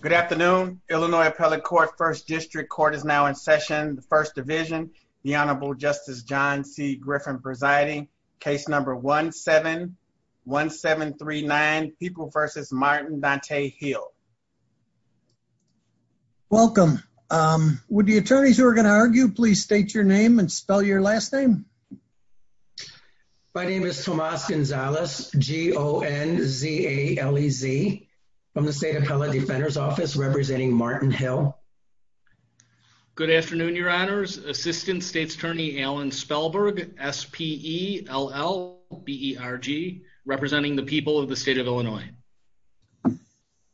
Good afternoon. Illinois Appellate Court First District Court is now in session. The First Division, the Honorable Justice John C. Griffin presiding. Case number 1-7-1-7-3-9, People v. Martin Dante Hill. Welcome. Would the attorneys who are going to argue please state your name and spell your last name? My name is Appellate Defender's Office, representing Martin Hill. Good afternoon, your honors. Assistant State's Attorney Alan Spellberg, S-P-E-L-L-B-E-R-G, representing the people of the state of Illinois.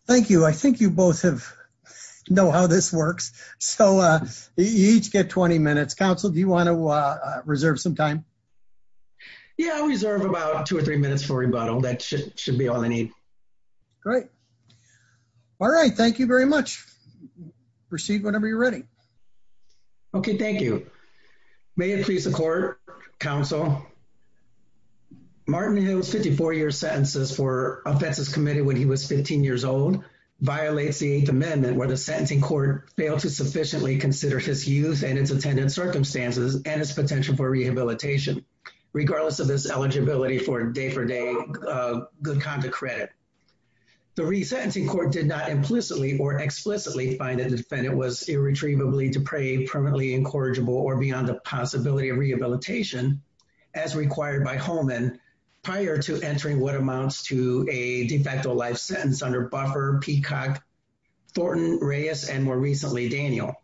Thank you. I think you both have know how this works. So you each get 20 minutes. Counsel, do you want to reserve some time? Yeah, I reserve about two or three minutes for rebuttal. That should be all I need. Great. All right, thank you very much. Proceed whenever you're ready. Okay, thank you. May it please the Court, Counsel, Martin Hill's 54-year sentences for offenses committed when he was 15 years old violates the Eighth Amendment where the sentencing court failed to sufficiently consider his youth and its attendant circumstances and his potential for rehabilitation, regardless of his eligibility for day-for-day good conduct credit. The resentencing court did not implicitly or explicitly find that the defendant was irretrievably depraved, permanently incorrigible, or beyond the possibility of rehabilitation as required by Holman prior to entering what amounts to a de facto life sentence under Buffer, Peacock, Thornton, Reyes, and more recently Daniel.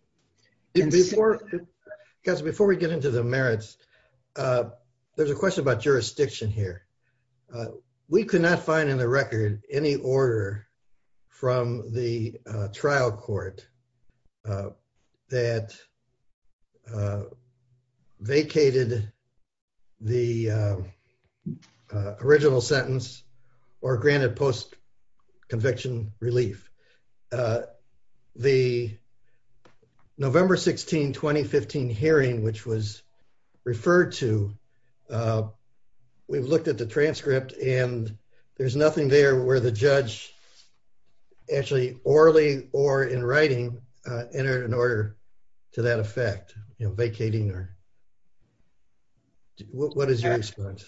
Before, before we get into the merits, there's a question about jurisdiction here. We could not find in the record any order from the trial court that vacated the 2015 hearing which was referred to. We've looked at the transcript and there's nothing there where the judge actually orally or in writing entered an order to that effect, you know, vacating or... What is your response?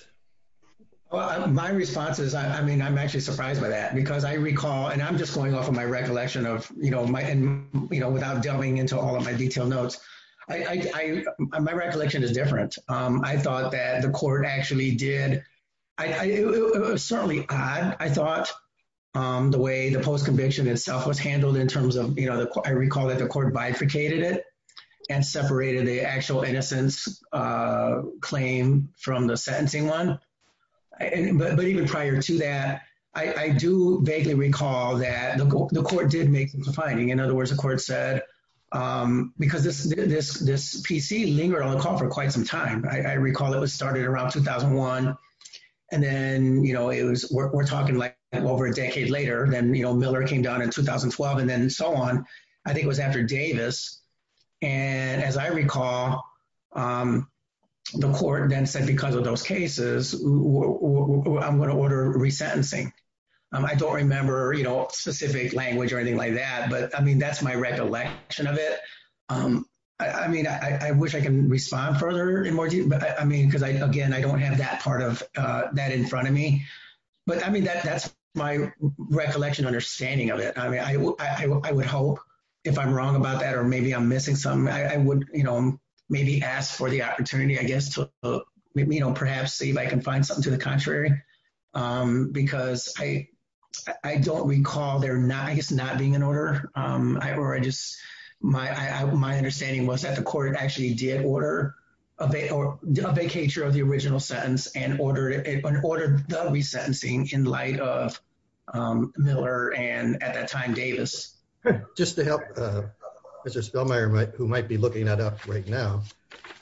Well, my response is, I mean, I'm actually surprised by that because I recall, and I'm just going off of my recollection of, you know, my, you know, without delving into all of my detailed notes, my recollection is different. I thought that the court actually did, it was certainly odd, I thought, the way the post-conviction itself was handled in terms of, you know, I recall that the court bifurcated it and separated the actual innocence claim from the sentencing one, but even prior to that, I do vaguely recall that the court did make the finding. In other words, the PC lingered on the call for quite some time. I recall it was started around 2001 and then, you know, it was, we're talking like over a decade later, then, you know, Miller came down in 2012 and then so on. I think it was after Davis, and as I recall, the court then said because of those cases, I'm gonna order resentencing. I don't remember, you know, specific language or anything like that, but I recollection of it. I mean, I wish I can respond further and more deeply, I mean, because I, again, I don't have that part of that in front of me, but I mean that that's my recollection, understanding of it. I mean, I would hope if I'm wrong about that, or maybe I'm missing something, I would, you know, maybe ask for the opportunity, I guess, to, you know, perhaps see if I can find something to the contrary, because I don't recall there not, I guess, not being an order, or I just, my understanding was that the court actually did order a vacature of the original sentence and ordered the resentencing in light of Miller and, at that time, Davis. Just to help Mr. Spellmayer, who might be looking that up right now,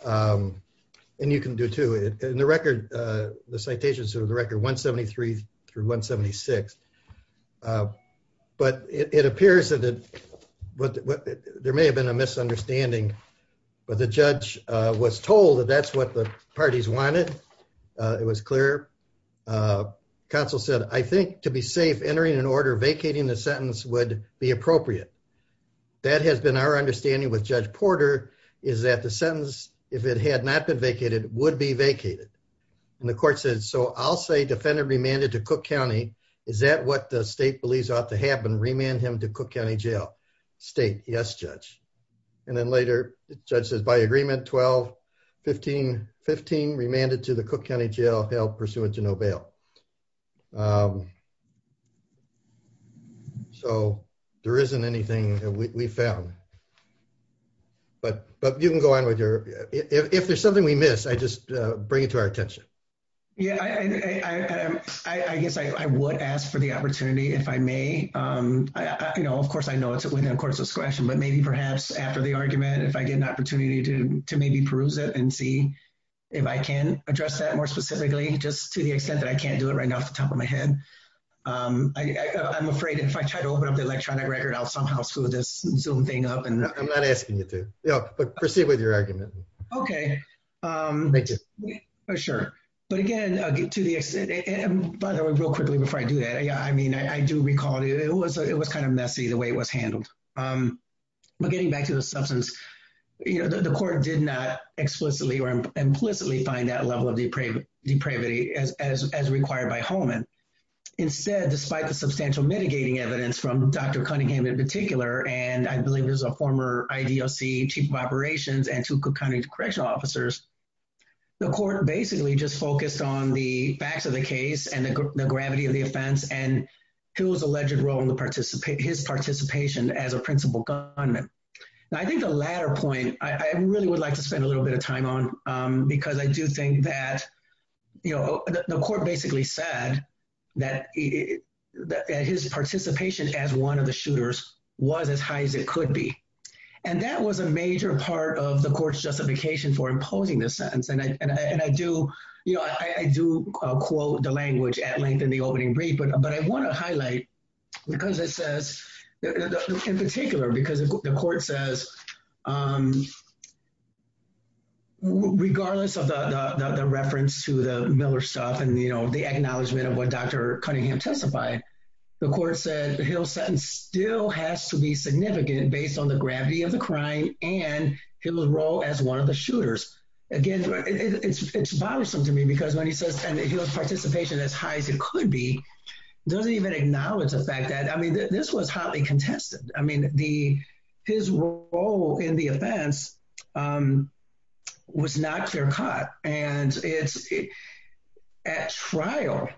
and you can do too, in the record, the citations of the record 173 through 176. But it appears that there may have been a misunderstanding, but the judge was told that that's what the parties wanted. It was clear. Counsel said, I think to be safe, entering an order vacating the sentence would be appropriate. That has been our understanding with Judge Porter is that the sentence, if it had not been vacated, would be vacated. And the court said, so I'll say defendant remanded to Cook County. Is that what the state believes ought to happen? Remand him to Cook County Jail. State, yes, judge. And then later, the judge says, by agreement 12-15-15, remanded to the Cook County Jail, held pursuant to no bail. So there isn't anything that we found. But you can go on with your, if there's something we missed, I just bring it to our attention. Yeah, I guess I would ask for the opportunity if I may. Of course, I know it's within court's discretion, but maybe perhaps after the argument, if I get an opportunity to maybe peruse it and see if I can address that more specifically, just to the extent that I can't do it right now off the top of my head. I'm afraid if I try to open up the electronic record, I'll somehow screw this Zoom thing up. I'm not asking you to, but proceed with your argument. Okay, sure. But again, to the extent, and by the way, real quickly before I do that, I mean, I do recall it was kind of messy the way it was handled. But getting back to the substance, you know, the court did not explicitly or implicitly find that level of depravity as required by Holman. Instead, despite the substantial mitigating evidence from Dr. Cunningham in particular, and I mean, correctional officers, the court basically just focused on the facts of the case and the gravity of the offense and Hill's alleged role in his participation as a principal gunman. I think the latter point I really would like to spend a little bit of time on, because I do think that, you know, the court basically said that his participation as one of the shooters was as part of the court's justification for imposing this sentence. And I do, you know, I do quote the language at length in the opening brief, but I want to highlight, because it says, in particular, because the court says, regardless of the reference to the Miller stuff and, you know, the acknowledgement of what Dr. Cunningham testified, the court said Hill's has to be significant based on the gravity of the crime and Hill's role as one of the shooters. Again, it's bothersome to me, because when he says and Hill's participation as high as it could be, doesn't even acknowledge the fact that, I mean, this was hotly contested. I mean, his role in the offense was not clear cut. And at trial,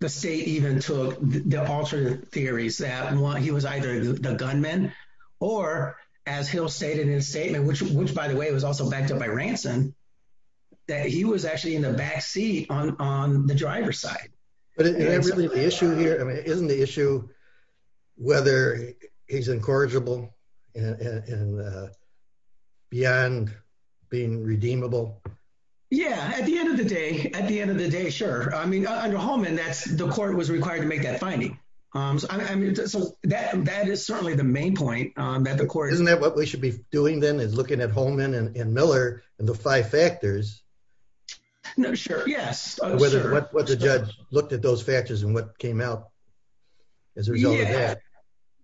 the state even took the alternate that he was either the gunman, or as Hill stated in his statement, which, by the way, was also backed up by Ransom, that he was actually in the back seat on the driver's side. But isn't the issue here, I mean, isn't the issue whether he's incorrigible and beyond being redeemable? Yeah, at the end of the day, at the end of the day, sure. I mean, under that, that is certainly the main point that the court... Isn't that what we should be doing, then, is looking at Holman and Miller and the five factors? No, sure. Yes. What the judge looked at those factors and what came out as a result of that.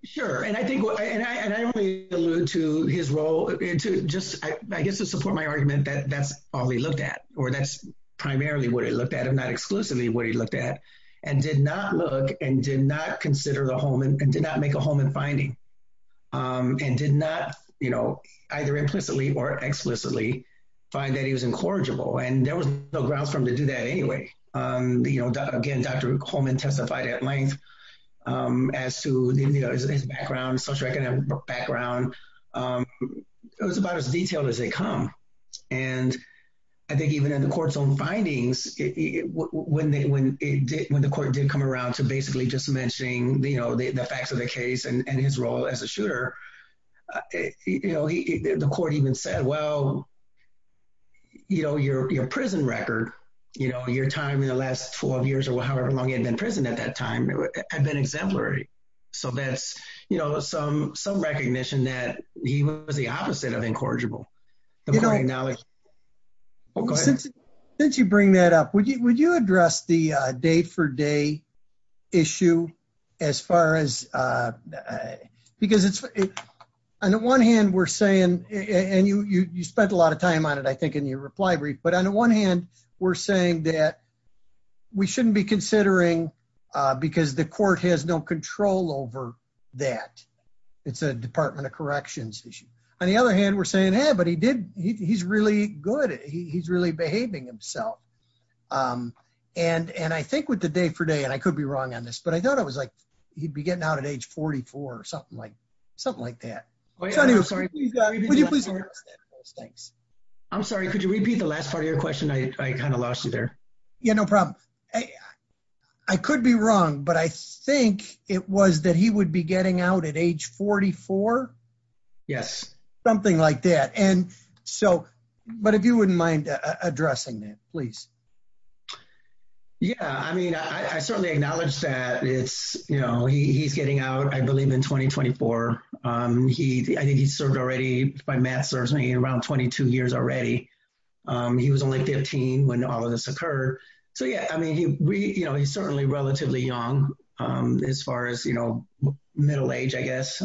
Sure. And I think, and I only allude to his role into just, I guess, to support my argument that that's all he looked at, or that's primarily what he looked at, and not exclusively what he looked at, and did not look and did not consider the Holman, and did not make a Holman finding, and did not either implicitly or explicitly find that he was incorrigible. And there was no grounds for him to do that anyway. Again, Dr. Holman testified at length as to his background, social economic background. It was about as detailed as they come. And I think even in the court's own findings, when the court did come around to basically just mentioning the facts of the case and his role as a shooter, the court even said, well, your prison record, your time in the last 12 years or however long you had been in prison at that time, had been exemplary. So that's some recognition that he was the opposite of incorrigible. You know, since you bring that up, would you address the day-for-day issue as far as, because it's, on the one hand, we're saying, and you spent a lot of time on it, I think, in your reply brief, but on the one hand, we're saying that we shouldn't be considering because the court has no control over that. It's a Department of Corrections issue. On the other hand, we're saying, hey, but he did, he's really good. He's really behaving himself. And I think with the day-for-day, and I could be wrong on this, but I thought it was like he'd be getting out at age 44 or something like that. So anyway, would you please address that for us? Thanks. I'm sorry. Could you repeat the last part of your question? I kind of lost you there. Yeah, no problem. I could be wrong, but I think it was that he would be getting out at age 44? Yes. Something like that. And so, but if you wouldn't mind addressing that, please. Yeah, I mean, I certainly acknowledge that it's, you know, he's getting out, I believe, in 2024. I think he's served already, by math serves me, around 22 years already. He was only 15 when all of this occurred. So yeah, I mean, you know, he's certainly relatively young as far as, you know, middle age, I guess,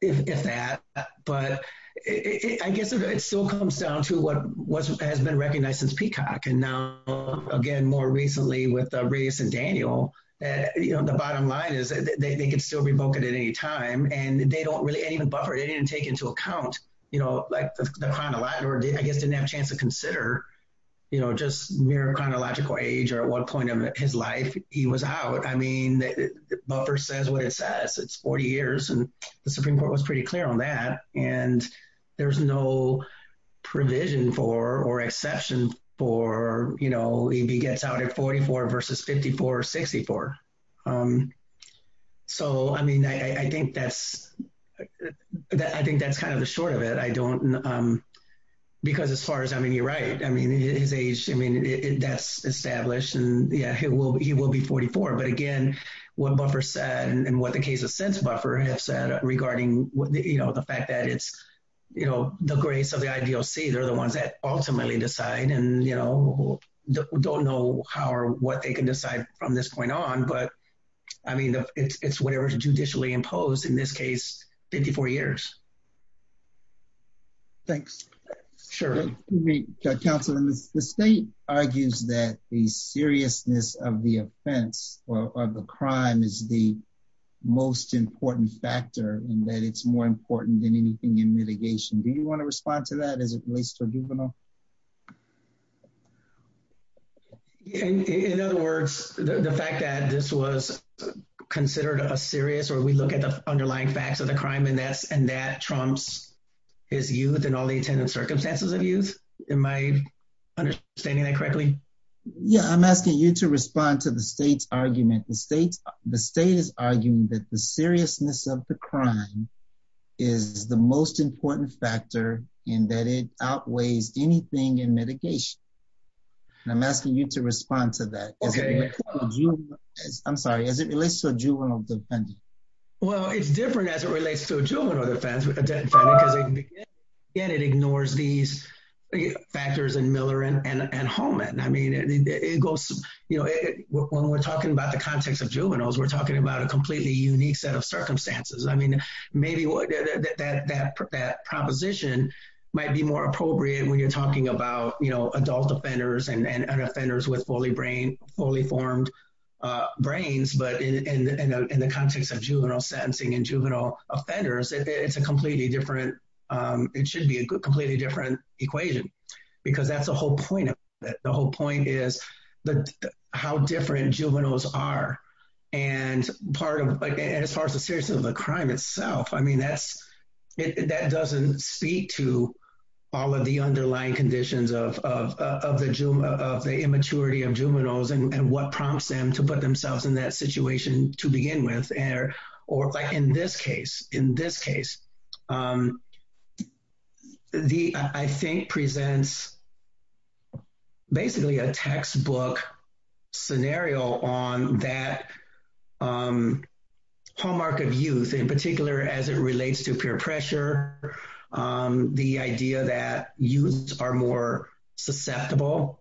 if that. But I guess it still comes down to what has been recognized since Peacock. And now, again, more recently with Reyes and Daniel, you know, the bottom line is that they can still revoke it at any time. And they don't really, and even Buffer, they didn't take into account, you know, like the chronological, or I guess didn't have a chance to consider, you know, just mere chronological age, or at what point of his life he was out. I mean, Buffer says what it says. It's 40 years, and the Supreme Court was pretty clear on that. And there's no provision for, or exception for, you know, if he gets out at 44 versus 54 or 64. So, I mean, I think that's kind of the short of it. I don't, because as far as, I mean, you're right. I mean, his age, I mean, that's established. And yeah, he will be 44. But again, what Buffer said, and what the cases since Buffer have said, regarding, you know, the fact that it's, you know, the grace of the IDOC, they're the ones that ultimately decide. And, you know, don't know how or what they can decide from this point on. But, I mean, it's whatever is judicially imposed, in this case, 54 years. Thanks. Sure. Counsel, the state argues that the seriousness of the offense, or the crime is the most important factor, and that it's more important than anything in litigation. Do you want to respond to that as it relates to juvenile? In other words, the fact that this was considered a serious, or we look at the underlying facts of the crime, and that trumps his youth, and all the attendant circumstances of youth. Am I understanding that correctly? Yeah, I'm asking you to respond to the state's argument. The state is arguing that the seriousness of the crime is the most important factor, and that it outweighs anything in mitigation. And I'm asking you to respond to that. I'm sorry, as it relates to a juvenile defendant. Well, it's different as it relates to a juvenile defendant, because it ignores these factors in Miller and Holman. I mean, when we're talking about the context of juveniles, we're talking about a completely unique set of circumstances. I mean, maybe that proposition might be more appropriate when you're talking about adult and offenders with fully-formed brains. But in the context of juvenile sentencing and juvenile offenders, it should be a completely different equation, because that's the whole point of it. The whole point is how different juveniles are. And as far as the seriousness of the crime itself, I mean, that doesn't speak to all of the underlying conditions of the immaturity of juveniles and what prompts them to put themselves in that situation to begin with. Or like in this case, I think presents basically a textbook scenario on that hallmark of youth, in particular as it relates to peer pressure, the idea that youth are more susceptible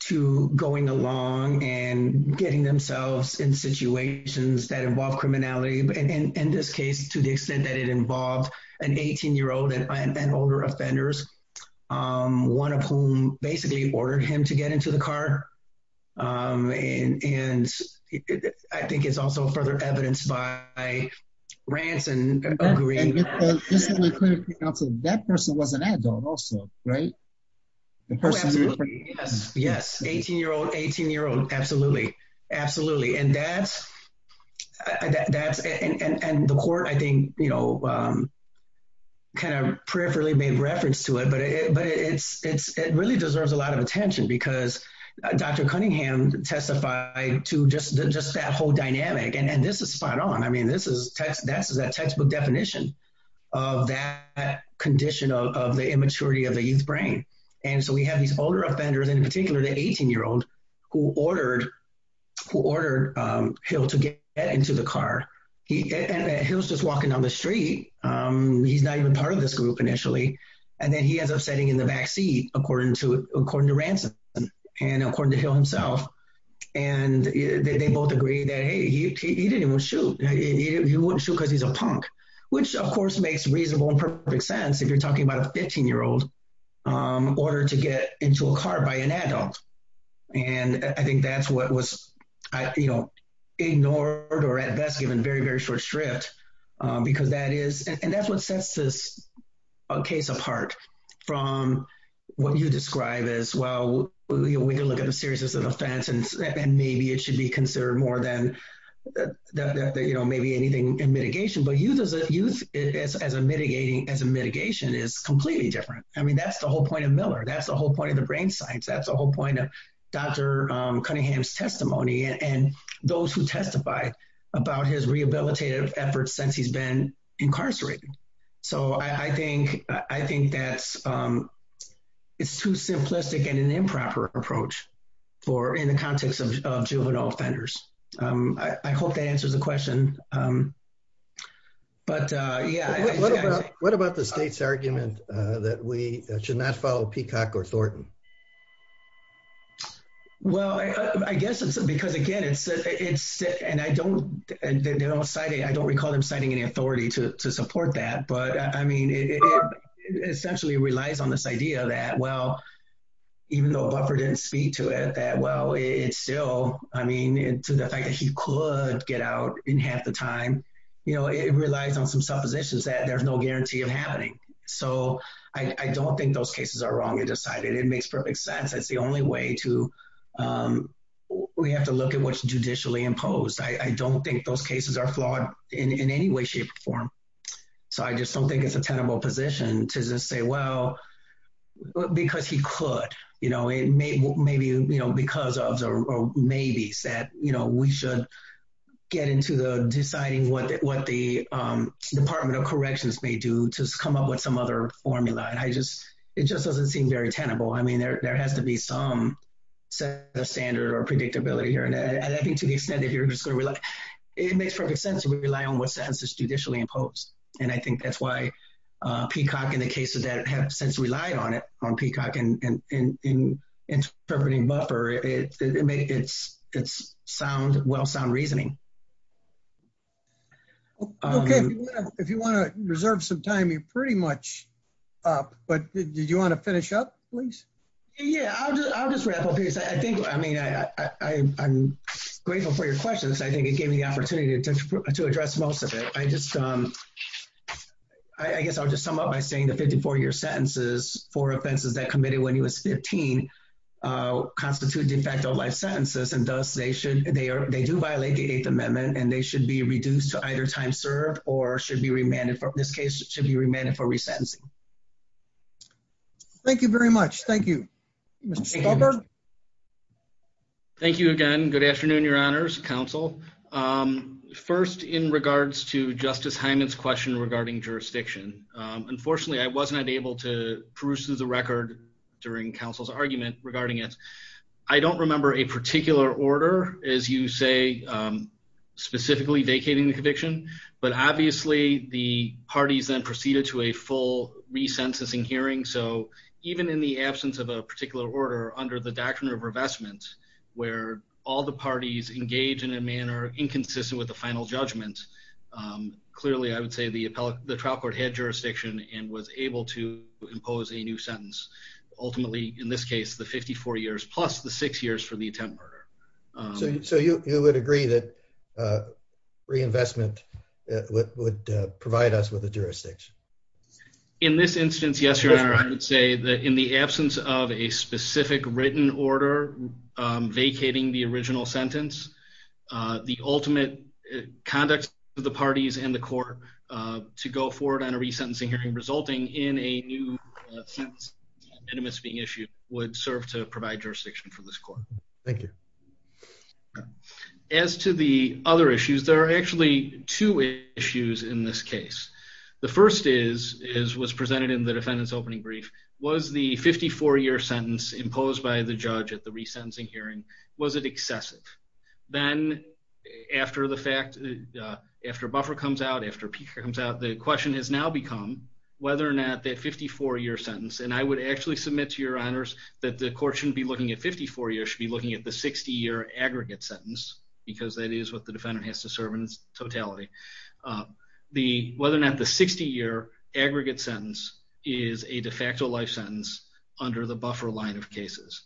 to going along and getting themselves in situations that involve criminality, in this case, to the extent that it involved an 18-year-old and older offenders, one of whom basically ordered him to get into the car. And I think it's also further evidenced by Ransom agreeing— And just so we're clear, that person was an adult also, right? Oh, absolutely. Yes. Yes. 18-year-old, 18-year-old. Absolutely. Absolutely. And the court, I think, kind of peripherally made reference to it, but it really deserves a lot of attention because Dr. Cunningham testified to just that whole dynamic, and this is spot on. I mean, this is that textbook definition of that condition of the immaturity of the youth brain. And so we have these older offenders, in particular the 18-year-old who ordered Hill to get into the car. And Hill's just walking down the street. He's not even part of this group initially. And then he ends up sitting in the backseat, according to Ransom and according to Hill himself. And they both agree that, hey, he didn't even shoot. He wouldn't shoot because he's a punk, which, of course, makes reasonable and perfect sense if you're talking about a 15-year-old ordered to get into a car by an adult. And I think that's what was ignored or, at best, given very, very short shrift. And that's what sets this case apart from what you describe as, well, we can look at the seriousness of the offense, and maybe it should be considered more than maybe anything in mitigation. But youth as a mitigation is completely different. I mean, that's the whole point of Miller. That's the whole point of the brain science. That's the point of Dr. Cunningham's testimony and those who testified about his rehabilitative efforts since he's been incarcerated. So I think that it's too simplistic and an improper approach in the context of juvenile offenders. I hope that answers the question. But, yeah. What about the state's argument that we should not follow Peacock or Thornton? Well, I guess it's because, again, and I don't recall them citing any authority to support that. But, I mean, it essentially relies on this idea that, well, even though Buffer didn't speak to it, that, well, it still, I mean, to the fact that he could get out in half the time, you know, it relies on some suppositions that there's no guarantee of happening. So I don't think those cases are wrongly decided. It makes perfect sense. That's the only way to, we have to look at what's judicially imposed. I don't think those cases are flawed in any way, shape, or form. So I just don't think it's a tenable position to just say, well, because he could, you know, maybe, you know, because of, or maybe said, you know, we should get into the deciding what the Department of Corrections may do to come up with some other formula. And I just, it just doesn't seem very tenable. I mean, there has to be some set of standard or predictability here. And I think to the extent that you're just going to rely, it makes perfect sense to rely on what sentence is peacock in the case of that have since relied on it on peacock and in interpreting buffer, it makes it sound, well sound reasoning. If you want to reserve some time, you're pretty much up, but did you want to finish up, please? Yeah, I'll just wrap up here. I think, I mean, I'm grateful for your questions. I think it gave me the opportunity to address most of it. I just, I guess I'll just sum up by saying the 54 year sentences for offenses that committed when he was 15 constitute de facto life sentences. And thus they should, they are, they do violate the eighth amendment and they should be reduced to either time served or should be remanded for this case should be remanded for resentencing. Thank you very much. Thank you, Mr. Stolberg. Thank you again. Good afternoon, your honors council. First in regards to justice Heiman's question regarding jurisdiction. Unfortunately, I wasn't able to peruse through the record during council's argument regarding it. I don't remember a particular order as you say, specifically vacating the conviction, but obviously the parties then proceeded to a full resentencing hearing. So even in the absence of a particular order under the doctrine of revestment, where all the parties engage in a manner inconsistent with the final judgment, clearly I would say the appellate, the trial court had jurisdiction and was able to impose a new sentence ultimately in this case, the 54 years, plus the six years for the attempt. So you would agree that reinvestment would provide us with a jurisdiction. In this instance, yes, your honor, I would say that in the absence of a specific written order, vacating the original sentence, the ultimate conduct of the parties and the court to go forward on a resentencing hearing resulting in a new sentence being issued would serve to provide jurisdiction for this court. Thank you. As to the other issues, there are actually two issues in this case. The first is, as was presented in the defendant's opening brief, was the 54-year sentence imposed by the judge at the resentencing hearing, was it excessive? Then after the fact, after buffer comes out, after peak comes out, the question has now become whether or not that 54-year sentence, and I would actually submit to your honors that the court shouldn't be looking at 54 years, should be looking at the 60-year aggregate sentence, because that is what the whether or not the 60-year aggregate sentence is a de facto life sentence under the buffer line of cases.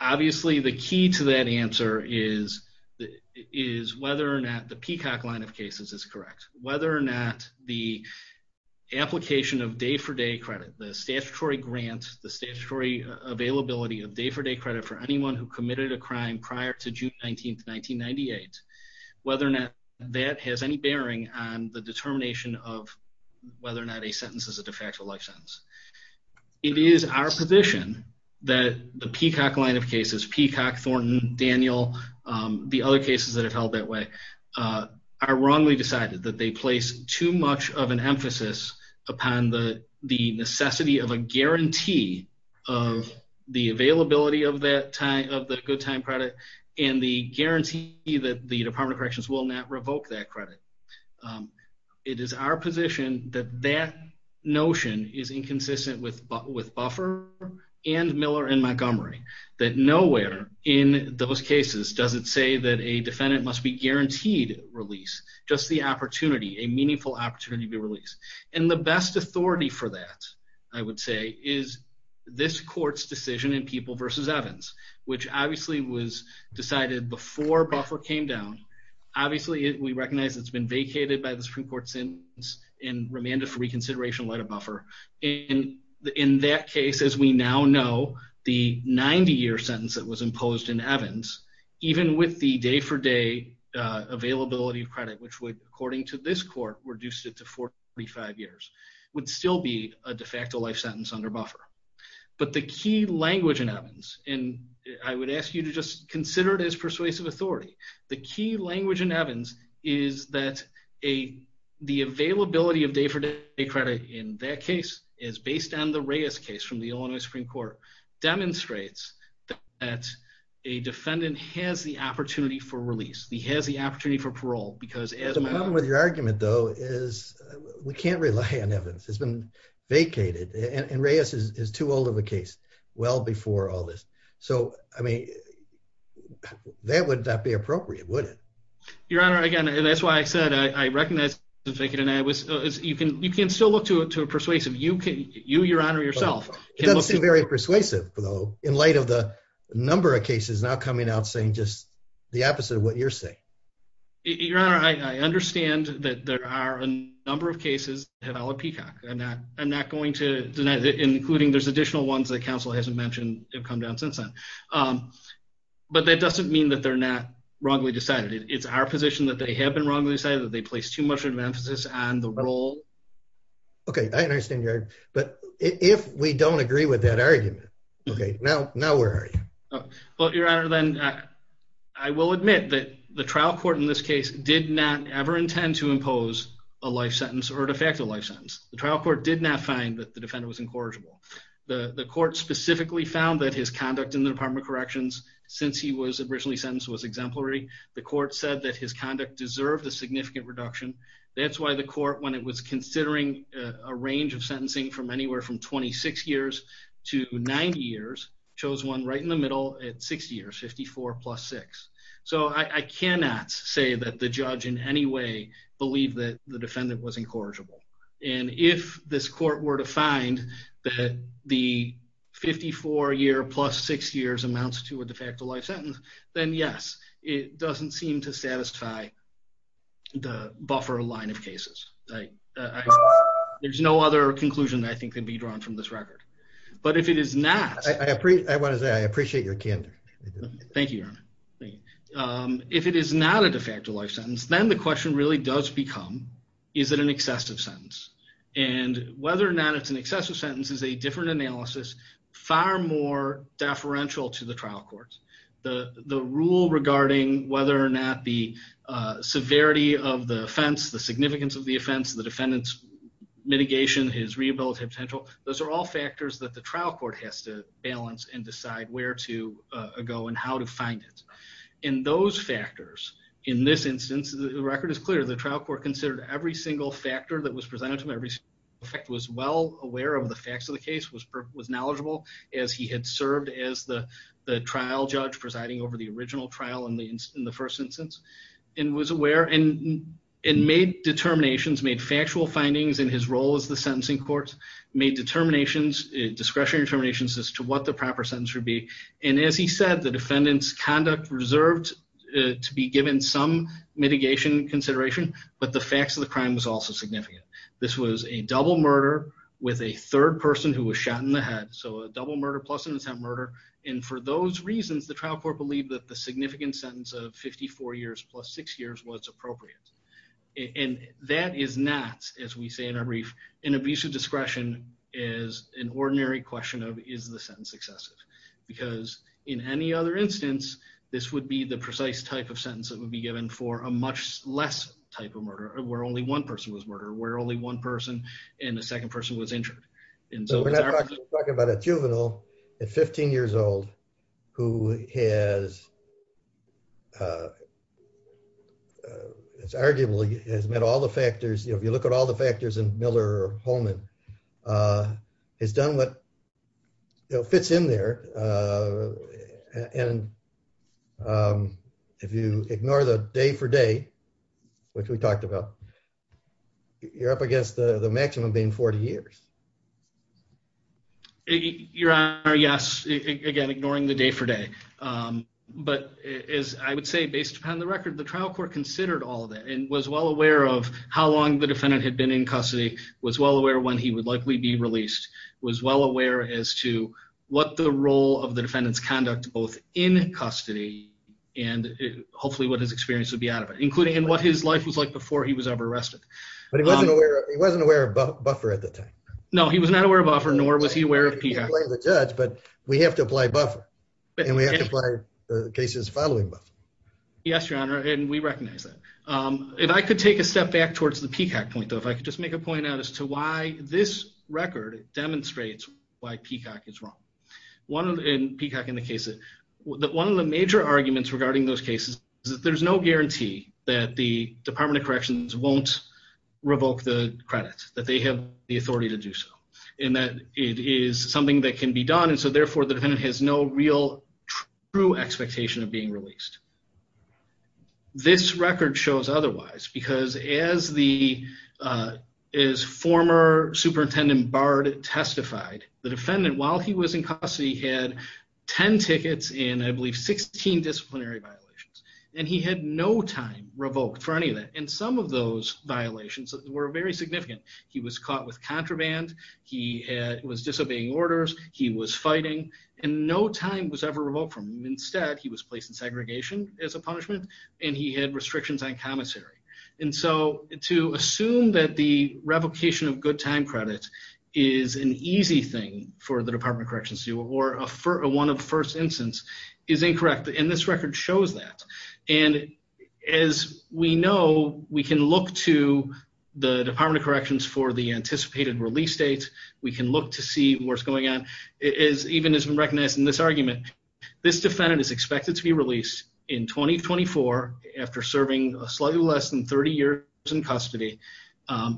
Obviously, the key to that answer is whether or not the Peacock line of cases is correct, whether or not the application of day-for-day credit, the statutory grant, the statutory availability of day-for-day credit for anyone who committed a crime prior to June 19, 1998, whether or not that has any bearing on the determination of whether or not a sentence is a de facto life sentence. It is our position that the Peacock line of cases, Peacock, Thornton, Daniel, the other cases that have held that way, are wrongly decided, that they place too much of an emphasis upon the necessity of a guarantee of the availability of the good time credit and the guarantee that the Department of Corrections will not revoke that credit. It is our position that that notion is inconsistent with buffer and Miller and Montgomery, that nowhere in those cases does it say that a defendant must be guaranteed release, just the opportunity, a meaningful opportunity to be released. And the best authority for that, I would say, is this court's decision in People v. Evans, which obviously was decided before buffer came down. Obviously, we recognize it's been vacated by the Supreme Court sentence in remand of reconsideration letter buffer. And in that case, as we now know, the 90-year sentence that was imposed in Evans, even with the day-for-day availability of credit, which would, to this court, reduce it to 45 years, would still be a de facto life sentence under buffer. But the key language in Evans, and I would ask you to just consider it as persuasive authority, the key language in Evans is that the availability of day-for-day credit in that case is based on the Reyes case from the Illinois Supreme Court, demonstrates that a defendant has the opportunity for release, he has the opportunity for parole. The problem with your argument, though, is we can't rely on Evans. It's been vacated, and Reyes is too old of a case, well before all this. So, I mean, that would not be appropriate, would it? Your Honor, again, and that's why I said I recognize it's been vacated, and you can still look to it to a persuasive, you, Your Honor, yourself. It doesn't seem very persuasive, though, in light of the number of cases now coming out just the opposite of what you're saying. Your Honor, I understand that there are a number of cases that have allowed Peacock. I'm not going to deny that, including there's additional ones that counsel hasn't mentioned have come down since then, but that doesn't mean that they're not wrongly decided. It's our position that they have been wrongly decided, that they place too much of an emphasis on the role. Okay, I understand your argument, but if we don't agree with that argument, okay, now where are you? Well, Your Honor, then I will admit that the trial court in this case did not ever intend to impose a life sentence or de facto life sentence. The trial court did not find that the defendant was incorrigible. The court specifically found that his conduct in the Department of Corrections, since he was originally sentenced, was exemplary. The court said that his conduct deserved a significant reduction. That's why the court, when it was considering a range of years, chose one right in the middle at six years, 54 plus six. So I cannot say that the judge in any way believed that the defendant was incorrigible. And if this court were to find that the 54 year plus six years amounts to a de facto life sentence, then yes, it doesn't seem to satisfy the buffer line of cases. There's no other conclusion I think can be drawn from this I want to say I appreciate your candor. Thank you, Your Honor. If it is not a de facto life sentence, then the question really does become, is it an excessive sentence? And whether or not it's an excessive sentence is a different analysis, far more deferential to the trial court. The rule regarding whether or not the severity of the offense, the significance of the offense, the defendant's mitigation, his rehabilitative potential, those are all factors that the trial court has to balance and decide where to go and how to find it. And those factors, in this instance, the record is clear, the trial court considered every single factor that was presented to him, every fact was well aware of the facts of the case, was knowledgeable as he had served as the trial judge presiding over the original trial in the first instance, and was aware and made determinations, made factual findings in his role as the sentencing court, made determinations, discretionary determinations as to what the proper sentence would be. And as he said, the defendant's conduct reserved to be given some mitigation consideration, but the facts of the crime was also significant. This was a double murder with a third person who was shot in the head, so a double murder plus an attempt murder, and for those reasons the trial court believed that the significant sentence of 54 years plus six years was appropriate. And that is not, as we say in our brief, an abuse of discretion is an ordinary question of is the sentence excessive? Because in any other instance, this would be the precise type of sentence that would be given for a much less type of murder where only one person was murdered, where only one person and a second person was injured. And so we're not talking about a juvenile at 15 years old who has arguably has met all the factors, if you look at all the factors in Miller Holman, has done what fits in there, and if you ignore the day for day, which we talked about, you're up against the maximum being 40 years. Your Honor, yes, again ignoring the day for day, but as I would say based upon the record, the trial court considered all of that and was well aware of how long the defendant had been in custody, was well aware when he would likely be released, was well aware as to what the role of the defendant's conduct both in custody and hopefully what his experience would be out of it, including in what his life was like before he was ever arrested. But he wasn't aware, he wasn't aware of Buffer at the time. No, he was not aware of Buffer, nor was he aware of Peacock. He can blame the judge, but we have to apply Buffer, and we have to apply the cases following Buffer. Yes, Your Honor, and we recognize that. If I could take a step back towards the Peacock point though, if I could just make a point out as to why this record demonstrates why Peacock is wrong. One of the, in Peacock in the case, that one of the major arguments regarding those cases is that there's no guarantee that the Department of Corrections won't revoke the credits, that they have the authority to do so, and that it is something that can be done, and so therefore the defendant has no real true expectation of being released. This record shows otherwise, because as the, as former Superintendent Bard testified, the defendant, while he was in custody, had 10 tickets and I believe 16 disciplinary violations, and he had no time revoked for any of that, and some of those violations were very significant. He was caught with contraband, he was disobeying orders, he was fighting, and no time was ever revoked for him. Instead, he was placed in segregation as a punishment, and he had restrictions on commissary, and so to assume that the revocation of good time credit is an easy thing for the Department of Corrections to do, or a one of the first instance, is incorrect, and this record shows that, and as we know, we can look to the Department of Corrections for the anticipated release date, we can look to see what's going on, it is, even has been recognized in this argument, this defendant is expected to be released in 2024, after serving slightly less than 30 years in custody,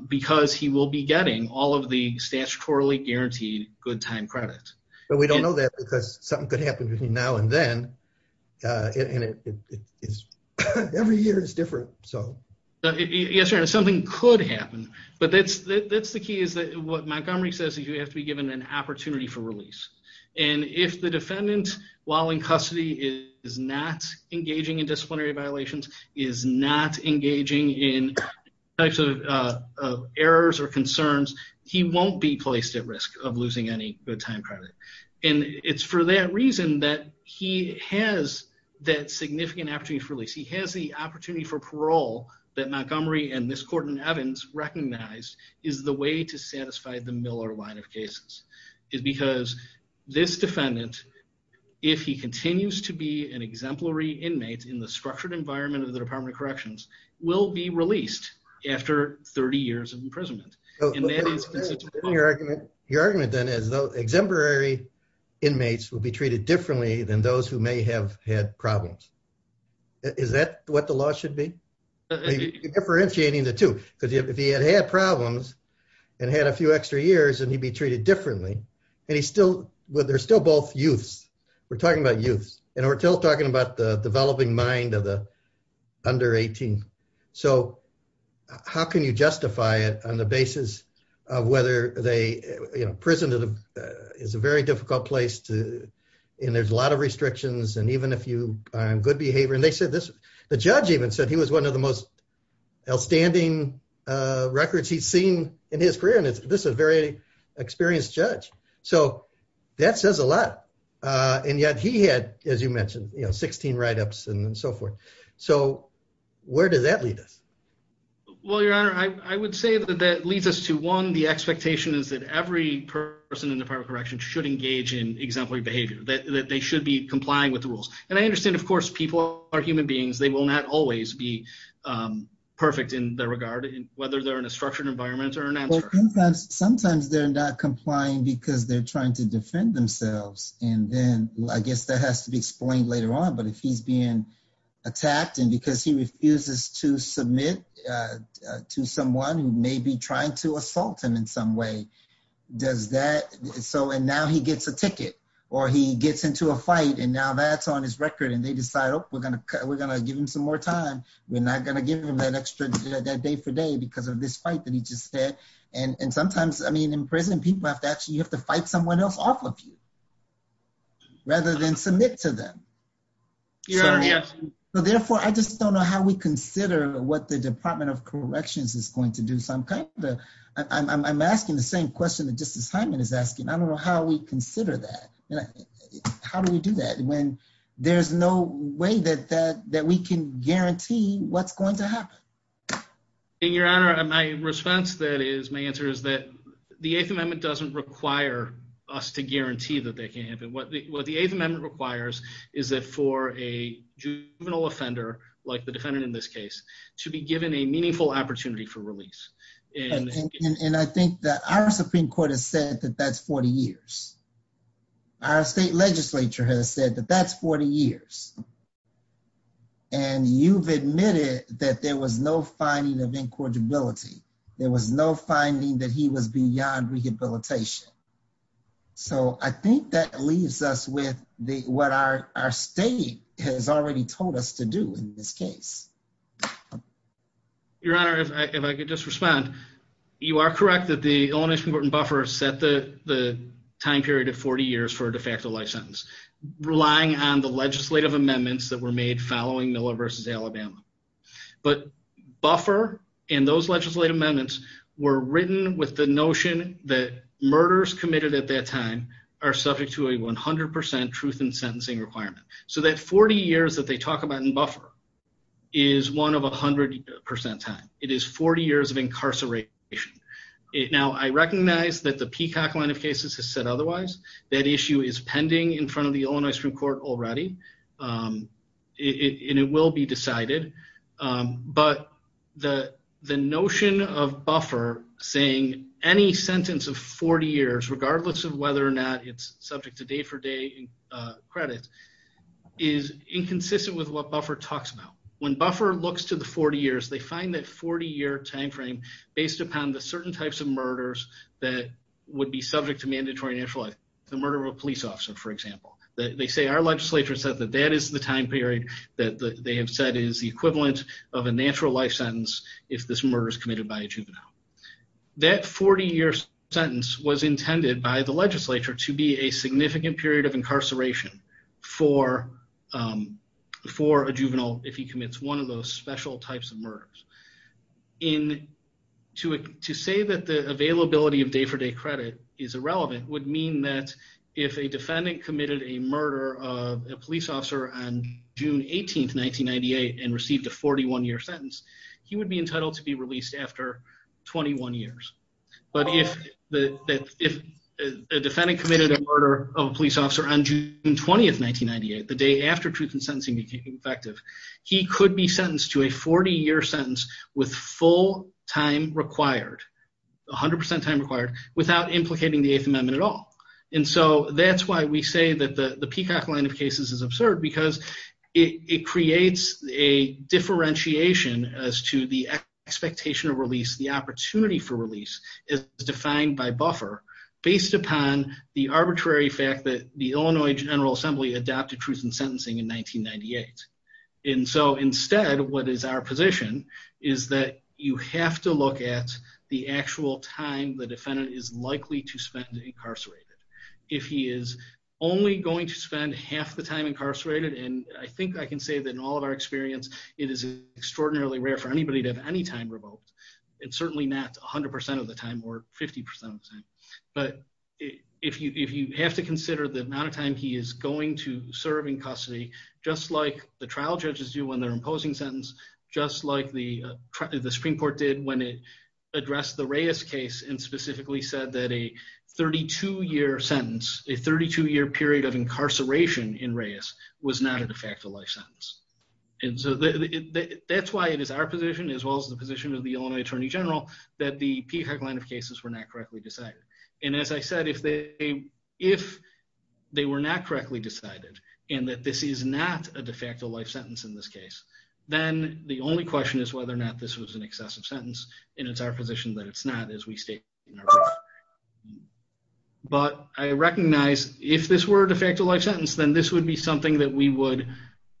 because he will be getting all of the statutorily guaranteed good time credit. But we don't know that, because something could happen between now and then, and it is, every year is different, so. Yes, Your Honor, something could happen, but that's, that's the key, is that what Montgomery says, you have to be given an opportunity to release. If the defendant, while in custody, is not engaging in disciplinary violations, is not engaging in types of errors or concerns, he won't be placed at risk of losing any good time credit, and it's for that reason that he has that significant opportunity for release. He has the opportunity for parole that Montgomery and this Court in Evans recognized is the way to satisfy the Miller line of cases, is because this defendant, if he continues to be an exemplary inmate in the structured environment of the Department of Corrections, will be released after 30 years of imprisonment. Your argument, then, is those exemplary inmates will be treated differently than those who may have had problems. Is that what the law should be? Differentiating the two, because if he had had problems and had a few extra years, and he'd be treated differently, and he's still, well, they're still both youths, we're talking about youths, and we're still talking about the developing mind of the under 18, so how can you justify it on the basis of whether they, you know, prison is a very difficult place to, and there's a lot of restrictions, and even if you are in good behavior, and they said this, the judge even said he was one of the most outstanding records he's seen in his career, and this is a very experienced judge, so that says a lot, and yet he had, as you mentioned, you know, 16 write-ups and so forth, so where does that lead us? Well, Your Honor, I would say that that leads us to, one, the expectation is that every person in the Department of Corrections should engage in exemplary behavior, that they should be complying with the rules, and I understand, of course, people are human be perfect in their regard, whether they're in a structured environment or an answer. Sometimes they're not complying because they're trying to defend themselves, and then I guess that has to be explained later on, but if he's being attacked, and because he refuses to submit to someone who may be trying to assault him in some way, does that, so, and now he gets a ticket, or he gets into a fight, and now that's on his record, and they decide, oh, we're giving him some more time, we're not going to give him that extra day for day because of this fight that he just had, and sometimes, I mean, in prison, people have to actually, you have to fight someone else off of you, rather than submit to them. Your Honor, yes. So, therefore, I just don't know how we consider what the Department of Corrections is going to do, so I'm kind of, I'm asking the same question that Justice Hyman is asking, I don't know how we consider that, you know, how do we do that when there's no way that we can guarantee what's going to happen? Your Honor, my response, that is, my answer is that the Eighth Amendment doesn't require us to guarantee that they can't happen. What the Eighth Amendment requires is that for a juvenile offender, like the defendant in this case, to be given a meaningful opportunity for release. And I think that our Supreme Court has said that that's 40 years. Our state legislature has said that that's 40 years, and you've admitted that there was no finding of incorrigibility, there was no finding that he was beyond rehabilitation. So, I think that leaves us with what our state has already told us to do in this case. Your Honor, if I could just respond, you are correct that the Illinois Supreme Court and Buffer set the time period of 40 years for a de facto life sentence, relying on the legislative amendments that were made following Miller v. Alabama. But Buffer and those legislative amendments were written with the notion that murders committed at that time are subject to a 100% truth in sentencing requirement. So, that 40 years that they talk about in Buffer is one of 100% time. It is 40 years of incarceration. Now, I recognize that the Peacock line of cases has said otherwise. That issue is pending in front of the Illinois Supreme Court already, and it will be decided. But the notion of Buffer saying any sentence of 40 years, regardless of whether or not it's subject to day-for-day credit, is inconsistent with what Buffer talks about. When Buffer looks to the 40 years, they find that 40-year time frame based upon the certain types of murders that would be subject to mandatory natural life, the murder of a police officer, for example. They say our legislature said that that is the time period that they have said is the equivalent of a natural life sentence if this murder is committed by a juvenile. That 40-year sentence was intended by the legislature to be a significant period of incarceration for a juvenile if he commits one of those special types of murders. To say that the availability of day-for-day credit is irrelevant would mean that if a defendant committed a murder of a police officer on June 18, 1998, and received a 41-year sentence, he would be entitled to be released after 21 years. But if a defendant committed a murder of a police officer on June 20, 1998, the day after truth and sentencing became effective, he could be sentenced to a 40-year sentence with full time required, 100% time required, without implicating the Eighth Amendment at all. And so that's why we say that the Peacock line of cases is absurd because it creates a differentiation as to the expectation of release, the opportunity for release, is defined by buffer based upon the arbitrary fact that the Illinois General Assembly adopted truth and sentencing in 1998. And so instead, what is our position is that you have to look at the actual time the defendant is likely to spend incarcerated. If he is only going to spend half the time incarcerated, and I think I can say that in all of our experience, it is extraordinarily rare for anybody to have any time revoked. It's certainly not 100% of the time or 50% of the time. But if you have to consider the amount of time he is going to serve in custody, just like the trial judges do when they're imposing sentence, just like the Supreme Court did when it addressed the Reyes case and specifically said that a 32 year sentence, a 32 year period of incarceration in Reyes was not a de facto life sentence. And so that's why it is our position as well as the position of the Illinois Attorney General that the Peacock line of cases were not correctly decided. And as I said, if they were not correctly decided, and that this is not a de facto life sentence in this case, then the only question is whether or not this was an excessive sentence. And it's our position that it's not as we state. But I recognize if this were a de facto life sentence, then this would be something that we would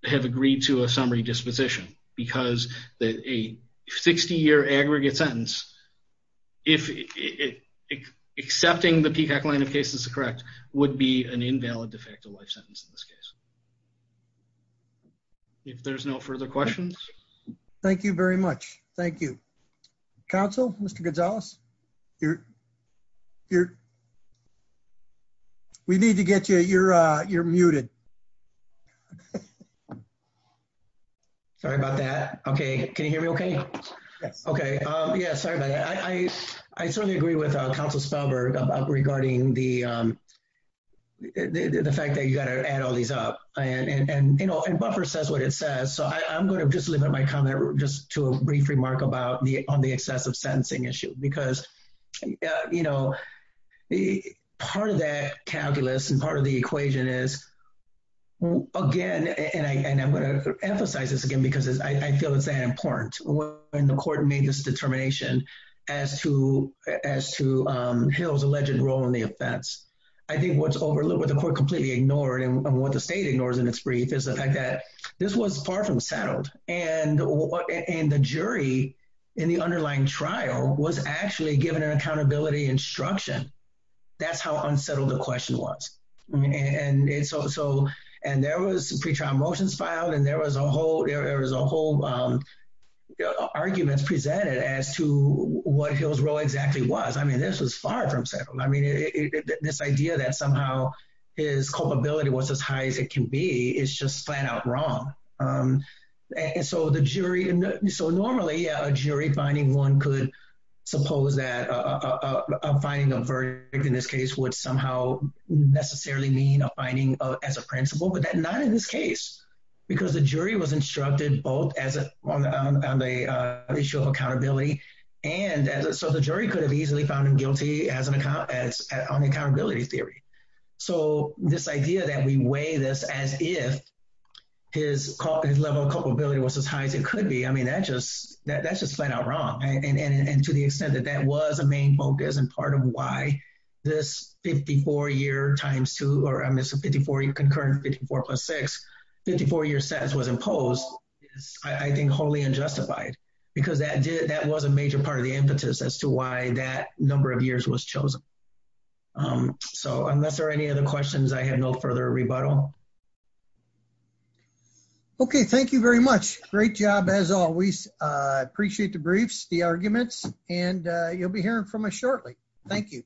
have agreed to a summary disposition because a 60 year aggregate sentence, if accepting the Peacock line of cases is correct, would be an invalid de facto life sentence in this case. If there's no further questions. Thank you very much. Thank you. Counsel, Mr. Gonzalez, you're, you're, we need to get you, you're, you're muted. Sorry about that. Okay. Can you hear me? Okay. Yes. Okay. Yeah. Sorry about that. I, I certainly agree with Councilor Spelberg about regarding the, the fact that you got to add all these up and, and, and, you know, and buffer says what it says. So I'm going to just limit my comment just to a brief remark about the, on the excessive sentencing issue, because, you know, the part of that calculus and part of the equation is again, and I, and I'm going to emphasize this again, because I feel it's that important when the court made this determination as to, as to Hill's alleged role in the offense. I think what's overlooked with the court completely ignored and what the state ignores in its brief is the fact that this was far from settled and, and the jury in the underlying trial was actually given an accountability instruction. That's how unsettled the question was. And so, so, and there was pre-trial motions filed and there was a whole, there was a whole arguments presented as to what Hill's role exactly was. I mean, this was far from settled. I mean, this idea that somehow his culpability was as high as it can be is just flat out wrong. And so the jury, so normally a jury finding one could suppose that a finding of verdict in this case would somehow necessarily mean a finding of, as a principal, but that not in this case, because the jury was instructed both as a, on the issue of accountability. And so the jury could easily found him guilty as an account, as an accountability theory. So this idea that we weigh this as if his level of culpability was as high as it could be, I mean, that just, that's just flat out wrong. And to the extent that that was a main focus and part of why this 54 year times two, or I'm missing 54 year concurrent 54 plus six, 54 year sentence was imposed. I think wholly unjustified because that did, that was a major part of the impetus as to why that number of years was chosen. So unless there are any other questions, I have no further rebuttal. Okay. Thank you very much. Great job as always. I appreciate the briefs, the arguments, and you'll be hearing from us shortly. Thank you.